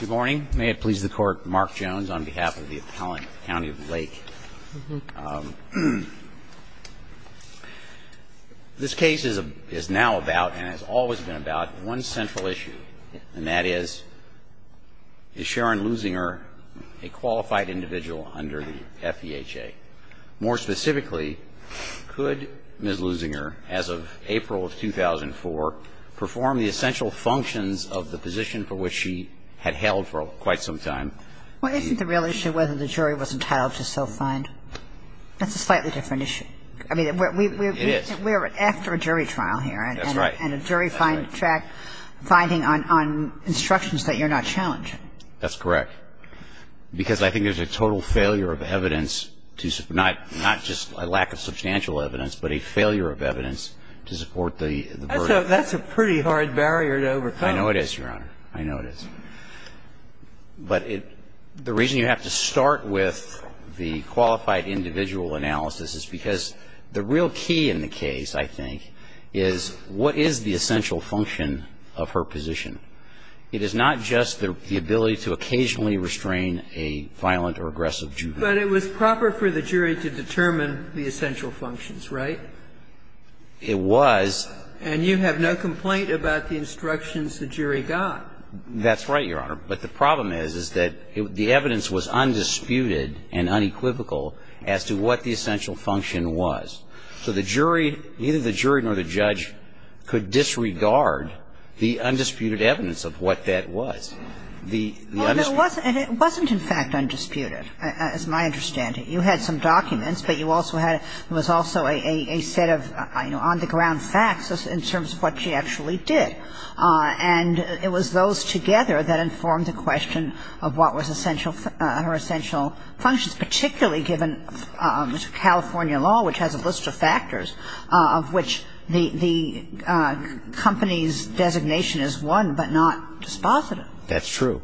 Good morning, may it please the court Mark Jones on behalf of the appellant County of Lake This case is a is now about and has always been about one central issue and that is Is Sharon losing her a qualified individual under the FEHA more specifically? Could miss losing her as of April of 2004? Perform the essential functions of the position for which she had held for quite some time Well, isn't the real issue whether the jury was entitled to self find? That's a slightly different issue. I mean, we're after a jury trial here. That's right and a jury find track Finding on on instructions that you're not challenging. That's correct Because I think there's a total failure of evidence to not not just a lack of substantial evidence But a failure of evidence to support the that's a pretty hard barrier to overcome. I know it is your honor. I know it is But it the reason you have to start with the qualified individual analysis is because the real key in the case I think is what is the essential function of her position? It is not just the ability to occasionally restrain a violent or aggressive But it was proper for the jury to determine the essential functions, right? It was and you have no complaint about the instructions the jury got. That's right, Your Honor But the problem is is that the evidence was undisputed and unequivocal as to what the essential function was So the jury neither the jury nor the judge could disregard the undisputed evidence of what that was The Wasn't in fact undisputed as my understanding you had some documents But you also had it was also a a set of I know on the ground facts in terms of what she actually did And it was those together that informed the question of what was essential her essential functions, particularly given California law which has a list of factors of which the the Company's designation is one, but not dispositive. That's true.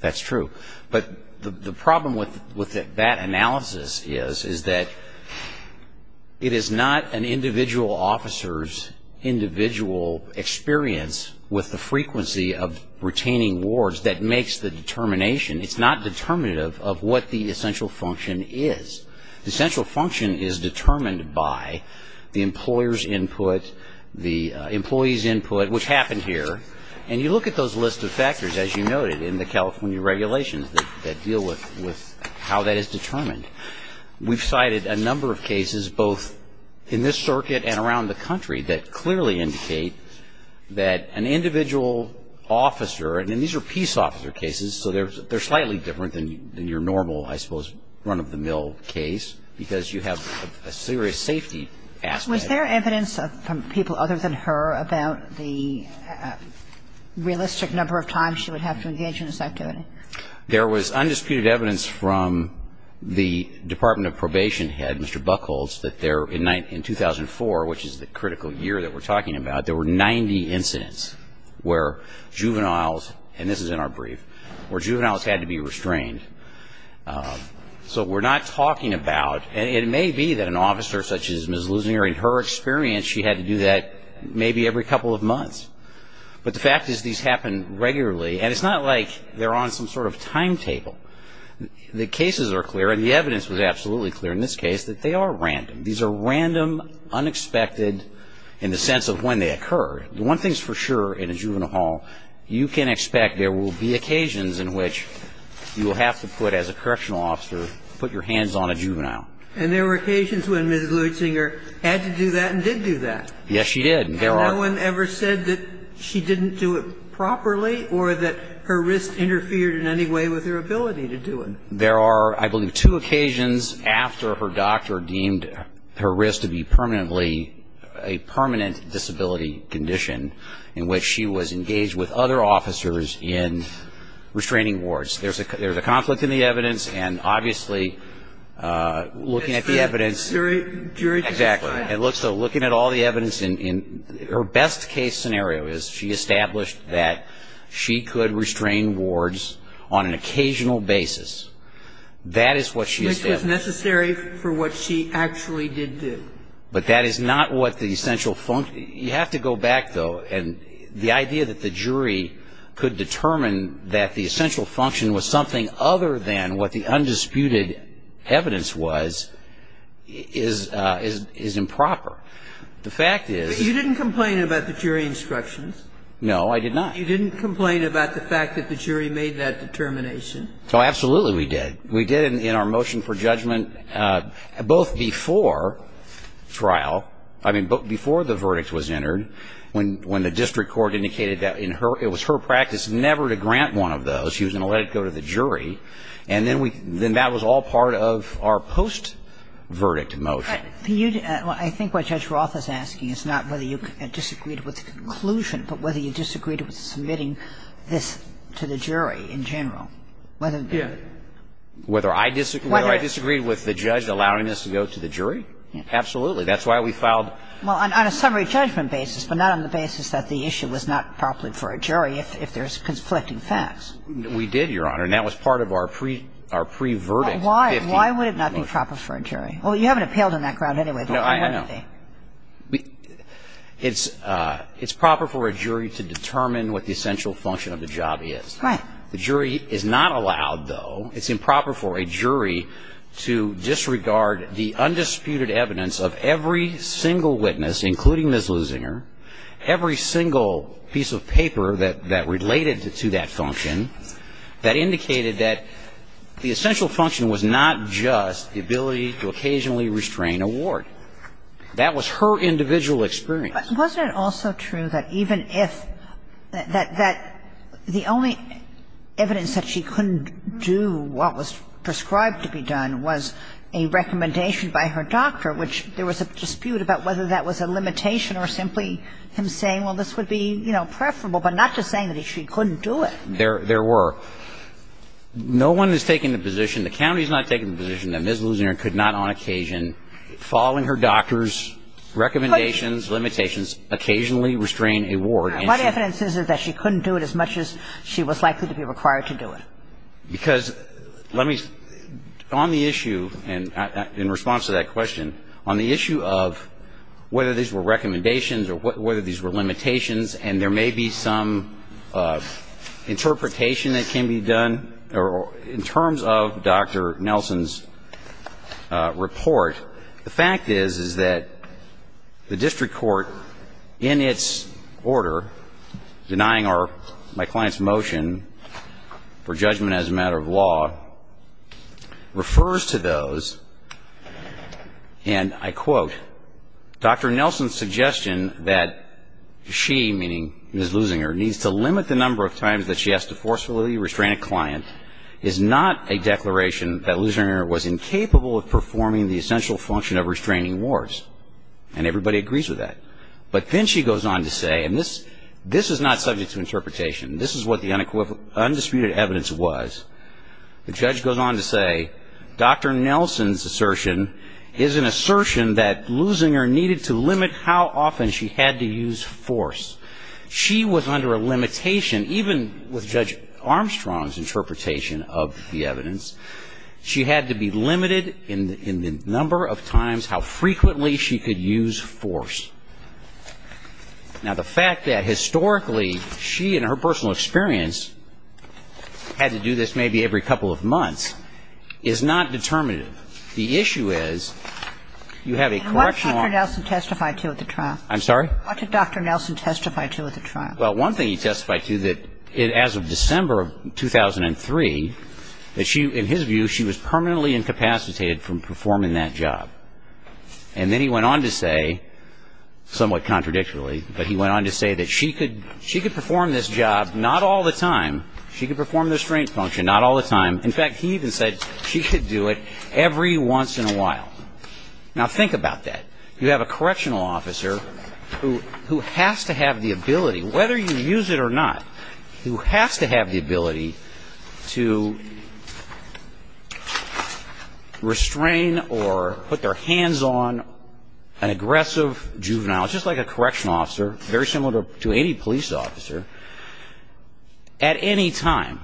That's true but the problem with with it that analysis is is that It is not an individual officers individual Experience with the frequency of retaining wards that makes the determination It's not determinative of what the essential function is the central function is determined by The employers input the employees input which happened here and you look at those list of factors as you noted in the California Regulations that deal with with how that is determined We've cited a number of cases both in this circuit and around the country that clearly indicate that an individual Officer and then these are peace officer cases So there's they're slightly different than your normal I suppose run-of-the-mill case because you have a serious safety was there evidence of people other than her about the Realistic number of times she would have to engage in this activity. There was undisputed evidence from The Department of Probation had mr. Buck holds that there in night in 2004, which is the critical year that we're talking about There were 90 incidents where juveniles and this is in our brief where juveniles had to be restrained So we're not talking about and it may be that an officer such as miss losing her in her experience She had to do that maybe every couple of months But the fact is these happen regularly and it's not like they're on some sort of timetable The cases are clear and the evidence was absolutely clear in this case that they are random. These are random Unexpected in the sense of when they occurred the one thing's for sure in a juvenile hall You can expect there will be occasions in which You will have to put as a correctional officer put your hands on a juvenile and there were occasions when ms Louis Singer had to do that and did do that. Yes She did there are one ever said that she didn't do it Properly or that her wrist interfered in any way with her ability to do it there are I believe two occasions after her doctor deemed her wrist to be permanently a Was engaged with other officers in restraining wards, there's a there's a conflict in the evidence and obviously looking at the evidence Exactly. It looks so looking at all the evidence in her best-case scenario is she established that? She could restrain wards on an occasional basis That is what she was necessary for what she actually did do But that is not what the essential funk you have to go back though and the idea that the jury Could determine that the essential function was something other than what the undisputed evidence was Is is improper the fact is you didn't complain about the jury instructions? No, I did not you didn't complain about the fact that the jury made that determination. So absolutely we did we did in our motion for judgment both before Trial, I mean before the verdict was entered when when the district court indicated that in her it was her practice Never to grant one of those she was gonna let it go to the jury And then we then that was all part of our post Verdict motion you I think what judge Roth is asking is not whether you disagreed with the conclusion But whether you disagreed with submitting this to the jury in general whether yeah Whether I disagree I disagreed with the judge allowing us to go to the jury Absolutely, that's why we filed Well on a summary judgment basis But not on the basis that the issue was not properly for a jury if there's conflicting facts We did your honor and that was part of our pre our pre verdict. Why why would it not be proper for a jury? Well, you haven't appealed in that crowd anyway, but I know we It's it's proper for a jury to determine what the essential function of the job is right? The jury is not allowed though. It's improper for a jury to Disregard the undisputed evidence of every single witness including this losing her every single piece of paper that that related to that function that Indicated that the essential function was not just the ability to occasionally restrain award That was her individual experience. Wasn't it also true that even if that that the only Evidence that she couldn't do what was prescribed to be done was a Recommendation by her doctor which there was a dispute about whether that was a limitation or simply him saying well This would be you know preferable but not just saying that if she couldn't do it there there were No one is taking the position. The county's not taking the position that ms. Loosener could not on occasion following her doctors Recommendations limitations Occasionally restrain a ward my evidence is is that she couldn't do it as much as she was likely to be required to do it because let me on the issue and in response to that question on the issue of Whether these were recommendations or what whether these were limitations and there may be some Interpretation that can be done or in terms of dr. Nelson's Report the fact is is that the district court in its order Denying our my clients motion for judgment as a matter of law refers to those And I quote dr. Nelson's suggestion that She meaning is losing her needs to limit the number of times that she has to forcefully restrain a client is Not a declaration that losing her was incapable of performing the essential function of restraining wars and everybody agrees with that But then she goes on to say and this this is not subject to interpretation. This is what the unequivocal undisputed evidence was The judge goes on to say Dr. Nelson's assertion is an assertion that losing her needed to limit how often she had to use force She was under a limitation even with judge Armstrong's interpretation of the evidence She had to be limited in the number of times how frequently she could use force Now the fact that historically she and her personal experience Had to do this maybe every couple of months is not determinative. The issue is You have a correctional Testified to at the trial. I'm sorry. What did dr. Nelson testify to at the trial? Well one thing he testified to that it as of December of 2003 that she in his view she was permanently incapacitated from performing that job and Then he went on to say Somewhat contradictorily, but he went on to say that she could she could perform this job. Not all the time She could perform the restraint function. Not all the time. In fact, he even said she could do it every once in a while Now think about that. You have a correctional officer who who has to have the ability whether you use it or not Who has to have the ability? to Restrain or put their hands on an Aggressive juvenile just like a correctional officer very similar to any police officer At any time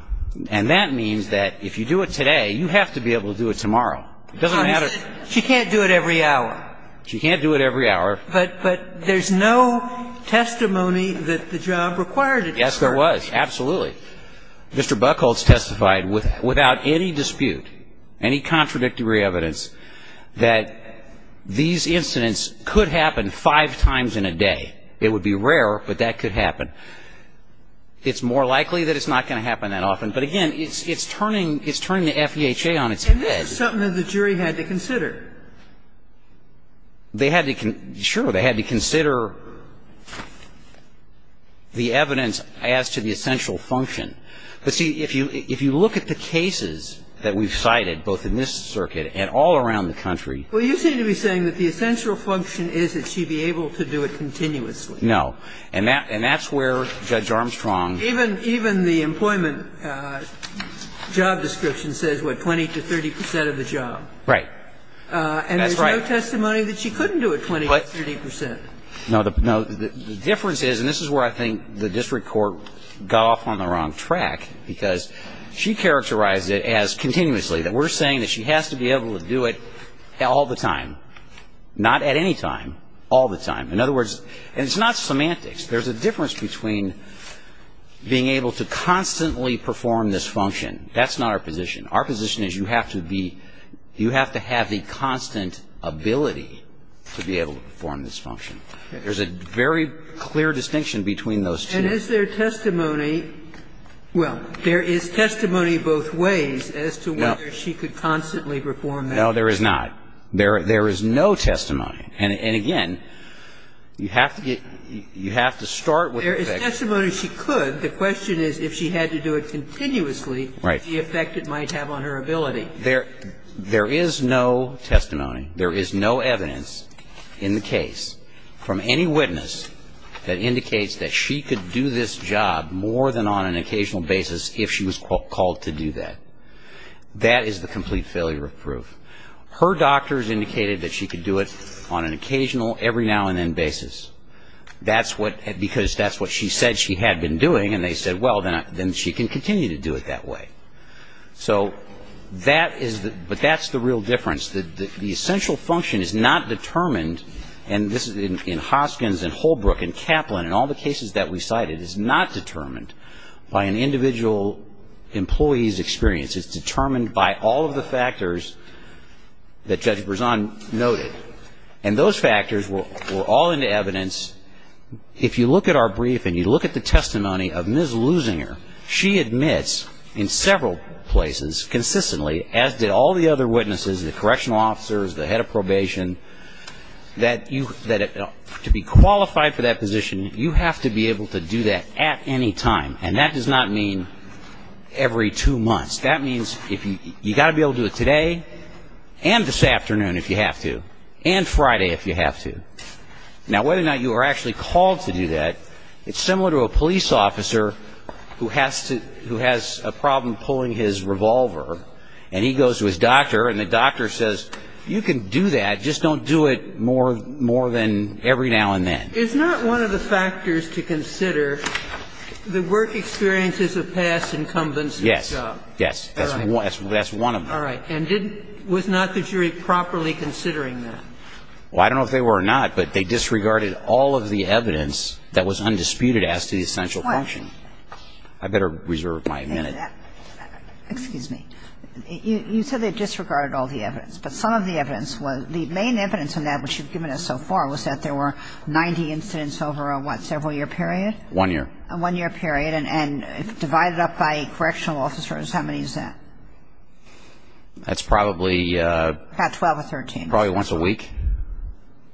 and that means that if you do it today, you have to be able to do it tomorrow Doesn't matter. She can't do it every hour. She can't do it every hour, but but there's no Testimony that the job required it. Yes, there was absolutely Mr. Buchholz testified with without any dispute any contradictory evidence that These incidents could happen five times in a day. It would be rare, but that could happen It's more likely that it's not going to happen that often But again, it's it's turning it's turning the FEHA on its head something that the jury had to consider They had to can sure they had to consider The evidence as to the essential function But see if you if you look at the cases that we've cited both in this circuit and all around the country Well, you seem to be saying that the essential function is that she be able to do it continuously No, and that and that's where judge Armstrong even even the employment Job description says what 20 to 30 percent of the job, right? And that's right testimony that she couldn't do it 20 30 percent no, the difference is and this is where I think the district court got off on the wrong track because She characterized it as continuously that we're saying that she has to be able to do it all the time Not at any time all the time in other words, and it's not semantics. There's a difference between Being able to constantly perform this function. That's not our position. Our position is you have to be you have to have the constant Ability to be able to perform this function. There's a very clear distinction between those and as their testimony Well, there is testimony both ways as to whether she could constantly perform. No, there is not there There is no testimony and again You have to get you have to start with there is a testimony she could the question is if she had to do it Continuously right the effect it might have on her ability there. There is no testimony There is no evidence in the case from any witness That indicates that she could do this job more than on an occasional basis if she was called to do that That is the complete failure of proof Her doctors indicated that she could do it on an occasional every now and then basis That's what because that's what she said. She had been doing and they said well, then then she can continue to do it that way so That is that but that's the real difference that the essential function is not determined And this is in Hoskins and Holbrook and Kaplan and all the cases that we cited is not determined by an individual Employees experience it's determined by all of the factors That judge was on noted and those factors were all in the evidence If you look at our brief and you look at the testimony of miss losing her She admits in several places consistently as did all the other witnesses the correctional officers the head of probation That you that it to be qualified for that position You have to be able to do that at any time and that does not mean every two months that means if you got to be able to do it today and This afternoon if you have to and Friday if you have to Now whether or not you are actually called to do that It's similar to a police officer who has to who has a problem pulling his revolver And he goes to his doctor and the doctor says you can do that And you just don't do it more more than every now and then it's not one of the factors to consider The work experiences of past incumbents. Yes. Yes. That's one. That's one of them All right, and didn't was not the jury properly considering that well I don't know if they were or not, but they disregarded all of the evidence that was undisputed as to the essential function. I better reserve my minute Excuse me You said they disregarded all the evidence But some of the evidence was the main evidence in that which you've given us so far was that there were 90 incidents over a what several year period one year a one-year period and and divided up by correctional officers. How many is that? That's probably About 12 or 13 probably once a week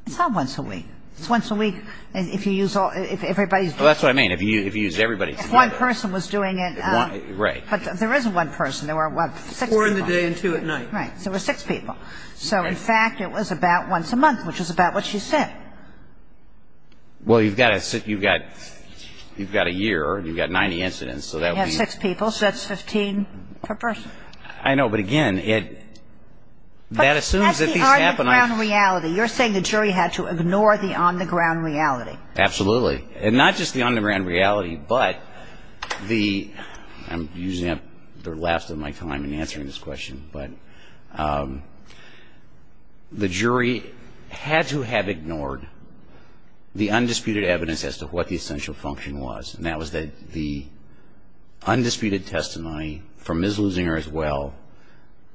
It's not once a week. It's once a week and if you use all if everybody's that's what I mean If you if you use everybody one person was doing it, right, but there isn't one person there were Right, so we're six people. So in fact it was about once a month which is about what she said Well, you've got a sit you've got You've got a year and you've got 90 incidents. So that has six people. So that's 15 per person. I know but again it That assumes that these happen on reality. You're saying the jury had to ignore the on-the-ground reality Absolutely and not just the on-the-ground reality, but the I'm using up their last of my time in answering this question, but The jury had to have ignored the undisputed evidence as to what the essential function was and that was that the Undisputed testimony from is losing her as well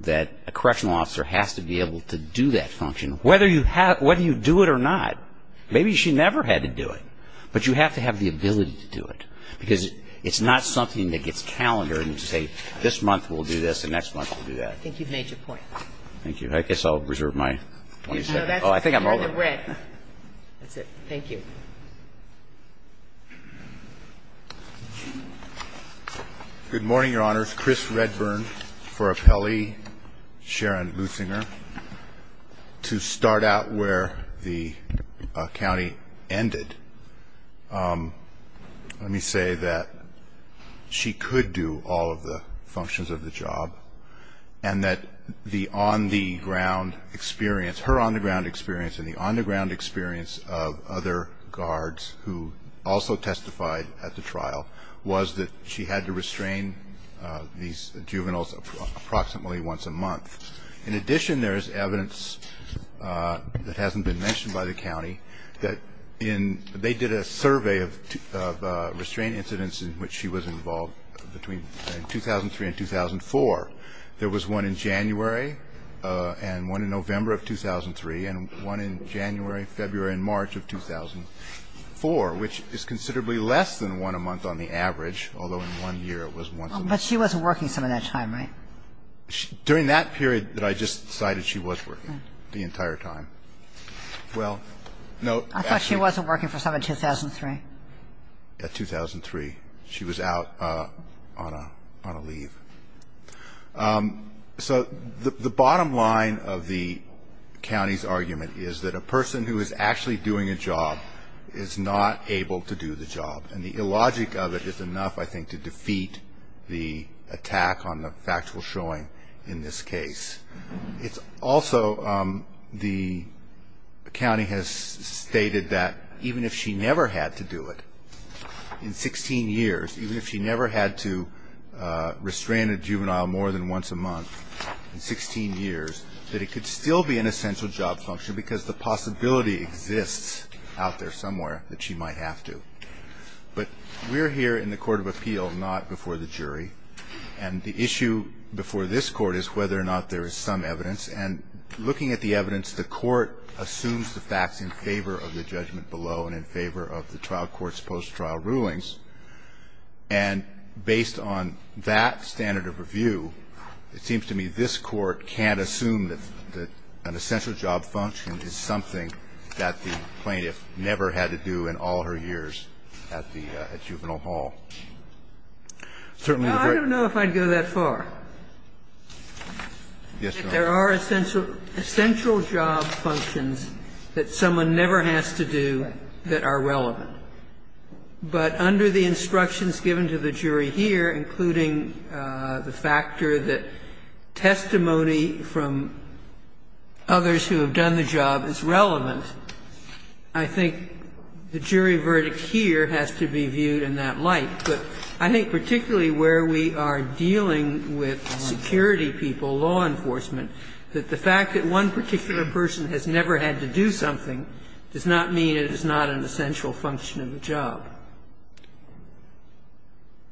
That a correctional officer has to be able to do that function whether you have whether you do it or not Maybe she never had to do it But you have to have the ability to do it because it's not something that gets calendar and say this month We'll do this the next month. We'll do that. I think you've made your point. Thank you. I guess I'll reserve my I think I'm over Thank you Good morning, Your Honor's Chris Redburn for a Pele Sharon Boosinger To start out where the county ended Let me say that She could do all of the functions of the job and that the on the ground experience her on-the-ground experience in the on-the-ground experience of other guards who Also testified at the trial was that she had to restrain These juveniles approximately once a month in addition. There's evidence that hasn't been mentioned by the county that in they did a survey of Restraint incidents in which she was involved between 2003 and 2004 there was one in January And one in November of 2003 and one in January February and March of 2004 Which is considerably less than one a month on the average although in one year it was one but she wasn't working some of that time, right During that period that I just cited she was working the entire time Well, no, I thought she wasn't working for some in 2003 At 2003 she was out on a on a leave So the bottom line of the County's argument is that a person who is actually doing a job is not able to do the job and the illogic of it It's enough. I think to defeat the attack on the factual showing in this case it's also the County has stated that even if she never had to do it in 16 years, even if she never had to An essential job function because the possibility exists out there somewhere that she might have to but we're here in the Court of Appeal not before the jury and the issue before this court is whether or not there is some evidence and looking at the evidence the court assumes the facts in favor of the judgment below and in favor of the trial courts post trial rulings and Based on that standard of review It seems to me this court can't assume that An essential job function is something that the plaintiff never had to do in all her years at the juvenile hall Certainly, I don't know if I'd go that far There are essential essential job functions that someone never has to do that are relevant but under the instructions given to the jury here including The factor that testimony from Others who have done the job is relevant. I Think the jury verdict here has to be viewed in that light But I think particularly where we are dealing with security people law enforcement That the fact that one particular person has never had to do something does not mean it is not an essential function of the job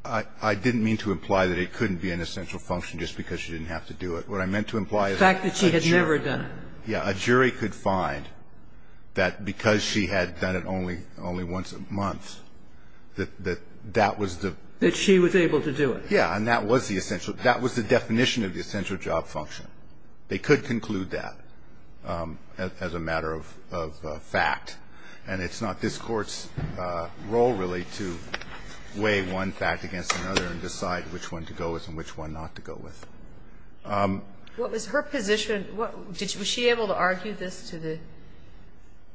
I Didn't mean to imply that it couldn't be an essential function just because she didn't have to do it What I meant to imply is fact that she had never done. Yeah a jury could find That because she had done it only only once a month That that that was the that she was able to do it Yeah, and that was the essential that was the definition of the essential job function. They could conclude that as a matter of Fact and it's not this court's role really to Weigh one fact against another and decide which one to go with and which one not to go with What was her position? What did she able to argue this to the?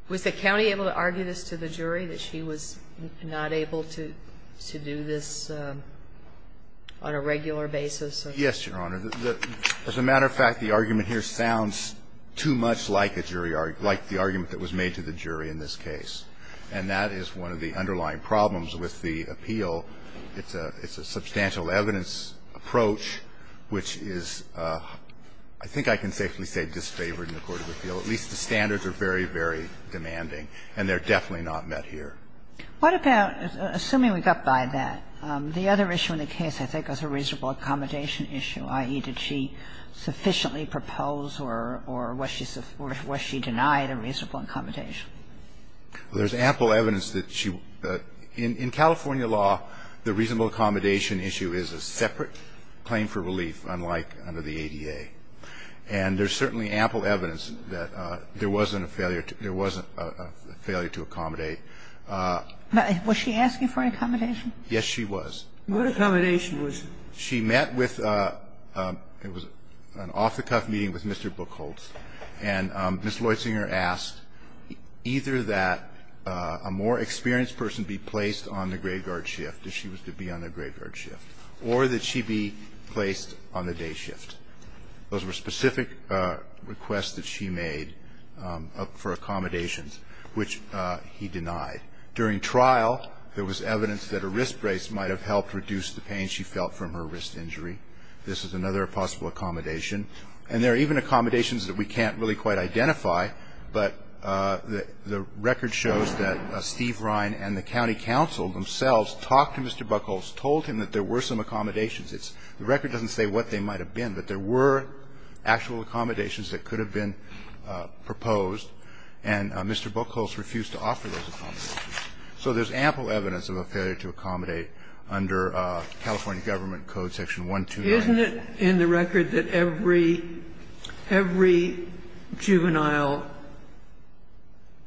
Was the county able to argue this to the jury that she was not able to to do this On a regular basis. Yes, your honor As a matter of fact the argument here sounds too much like a jury argument like the argument that was made to the jury in This case and that is one of the underlying problems with the appeal. It's a it's a substantial evidence approach which is I Think I can safely say disfavored in the court of appeal at least the standards are very very demanding and they're definitely not met here What about assuming we got by that the other issue in the case? I think was a reasonable accommodation issue ie did she? Sufficiently propose or or what she said where she denied a reasonable accommodation There's ample evidence that she in in California law the reasonable accommodation issue is a separate claim for relief unlike under the ADA and There's certainly ample evidence that there wasn't a failure. There wasn't a failure to accommodate Was she asking for an accommodation? Yes, she was what accommodation was she met with? It was an off-the-cuff meeting with mr. Buchholz and miss Lloyd Singer asked Either that a more experienced person be placed on the graveyard shift if she was to be on the graveyard shift or that she be placed on the day shift Those were specific requests that she made for accommodations Which he denied during trial there was evidence that a wrist brace might have helped reduce the pain She felt from her wrist injury This is another possible accommodation and there are even accommodations that we can't really quite identify but The record shows that Steve Ryan and the County Council themselves talked to mr. Buchholz told him that there were some accommodations. It's the record doesn't say what they might have been but there were actual accommodations that could have been proposed and Mr. Buchholz refused to offer those So there's ample evidence of a failure to accommodate under California Government Code section one two, isn't it in the record that every every Juvenile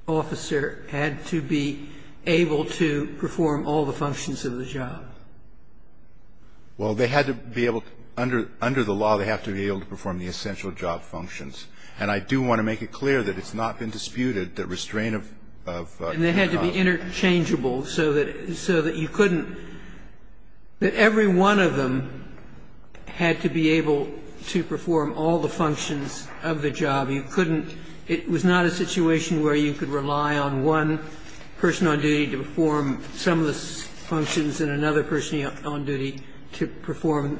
Officer had to be able to perform all the functions of the job Well, they had to be able to under under the law They have to be able to perform the essential job functions and I do want to make it clear that it's not been disputed that restraint of They had to be interchangeable so that so that you couldn't that every one of them Had to be able to perform all the functions of the job You couldn't it was not a situation where you could rely on one person on duty to perform some of the Functions and another person on duty to perform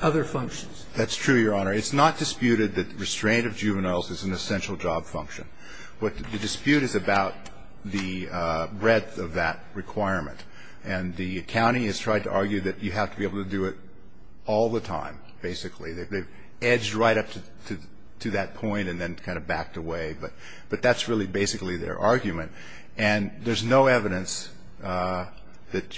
other functions. That's true. Your honor It's not disputed that restraint of juveniles is an essential job function. What the dispute is about the Breadth of that requirement and the county has tried to argue that you have to be able to do it all the time Basically, they've edged right up to to that point and then kind of backed away But but that's really basically their argument and there's no evidence That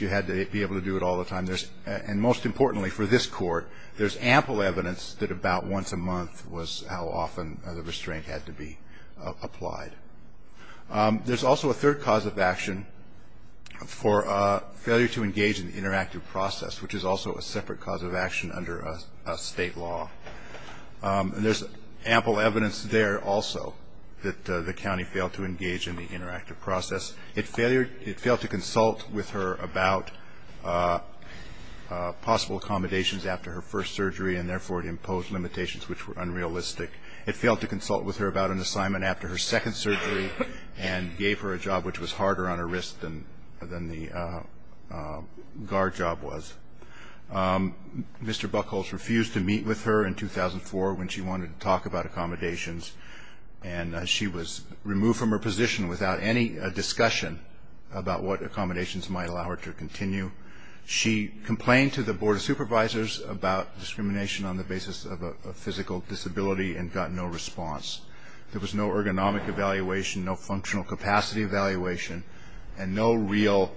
you had to be able to do it all the time. There's and most importantly for this court There's ample evidence that about once a month was how often the restraint had to be applied There's also a third cause of action For a failure to engage in the interactive process, which is also a separate cause of action under a state law And there's ample evidence there. Also that the county failed to engage in the interactive process It failed it failed to consult with her about Possible accommodations after her first surgery and therefore it imposed limitations which were unrealistic it failed to consult with her about an assignment after her second surgery and gave her a job which was harder on her wrist and than the Guard job was Mr. Buchholz refused to meet with her in 2004 when she wanted to talk about accommodations and She was removed from her position without any discussion about what accommodations might allow her to continue She complained to the Board of Supervisors about discrimination on the basis of a physical disability and got no response There was no ergonomic evaluation. No functional capacity evaluation and no real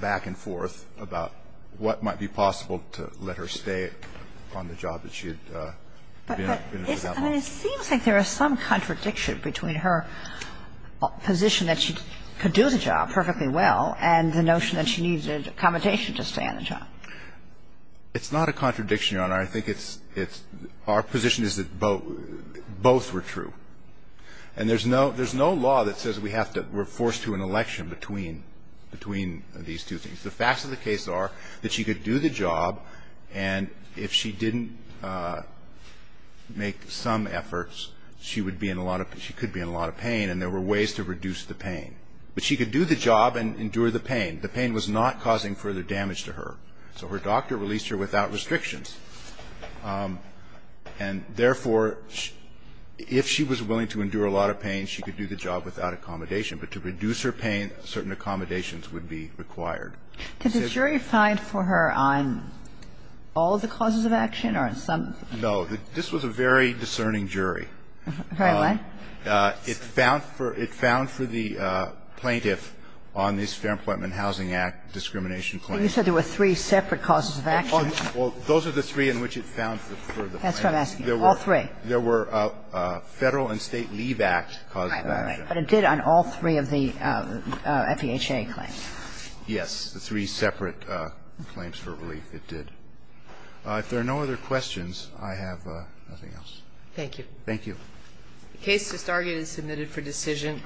Back and forth about what might be possible to let her stay on the job that she had Seems like there is some contradiction between her Position that she could do the job perfectly well and the notion that she needed accommodation to stay on the job It's not a contradiction. Your Honor. I think it's it's our position is that both both were true and There's no there's no law that says we have to we're forced to an election between Between these two things the facts of the case are that she could do the job and if she didn't Make some efforts She would be in a lot of she could be in a lot of pain and there were ways to reduce the pain But she could do the job and endure the pain. The pain was not causing further damage to her so her doctor released her without restrictions and therefore If she was willing to endure a lot of pain, she could do the job without accommodation But to reduce her pain certain accommodations would be required. Did the jury find for her on? All the causes of action or in some? No, this was a very discerning jury It found for it found for the Plaintiff on this Fair Employment Housing Act discrimination claim. You said there were three separate causes of action Well, those are the three in which it found for the plaintiff. That's what I'm asking, all three. There were Federal and State Leave Act causes of action. But it did on all three of the FEHA claims. Yes, the three separate Claims for relief it did If there are no other questions, I have nothing else. Thank you. Thank you Case to start is submitted for decision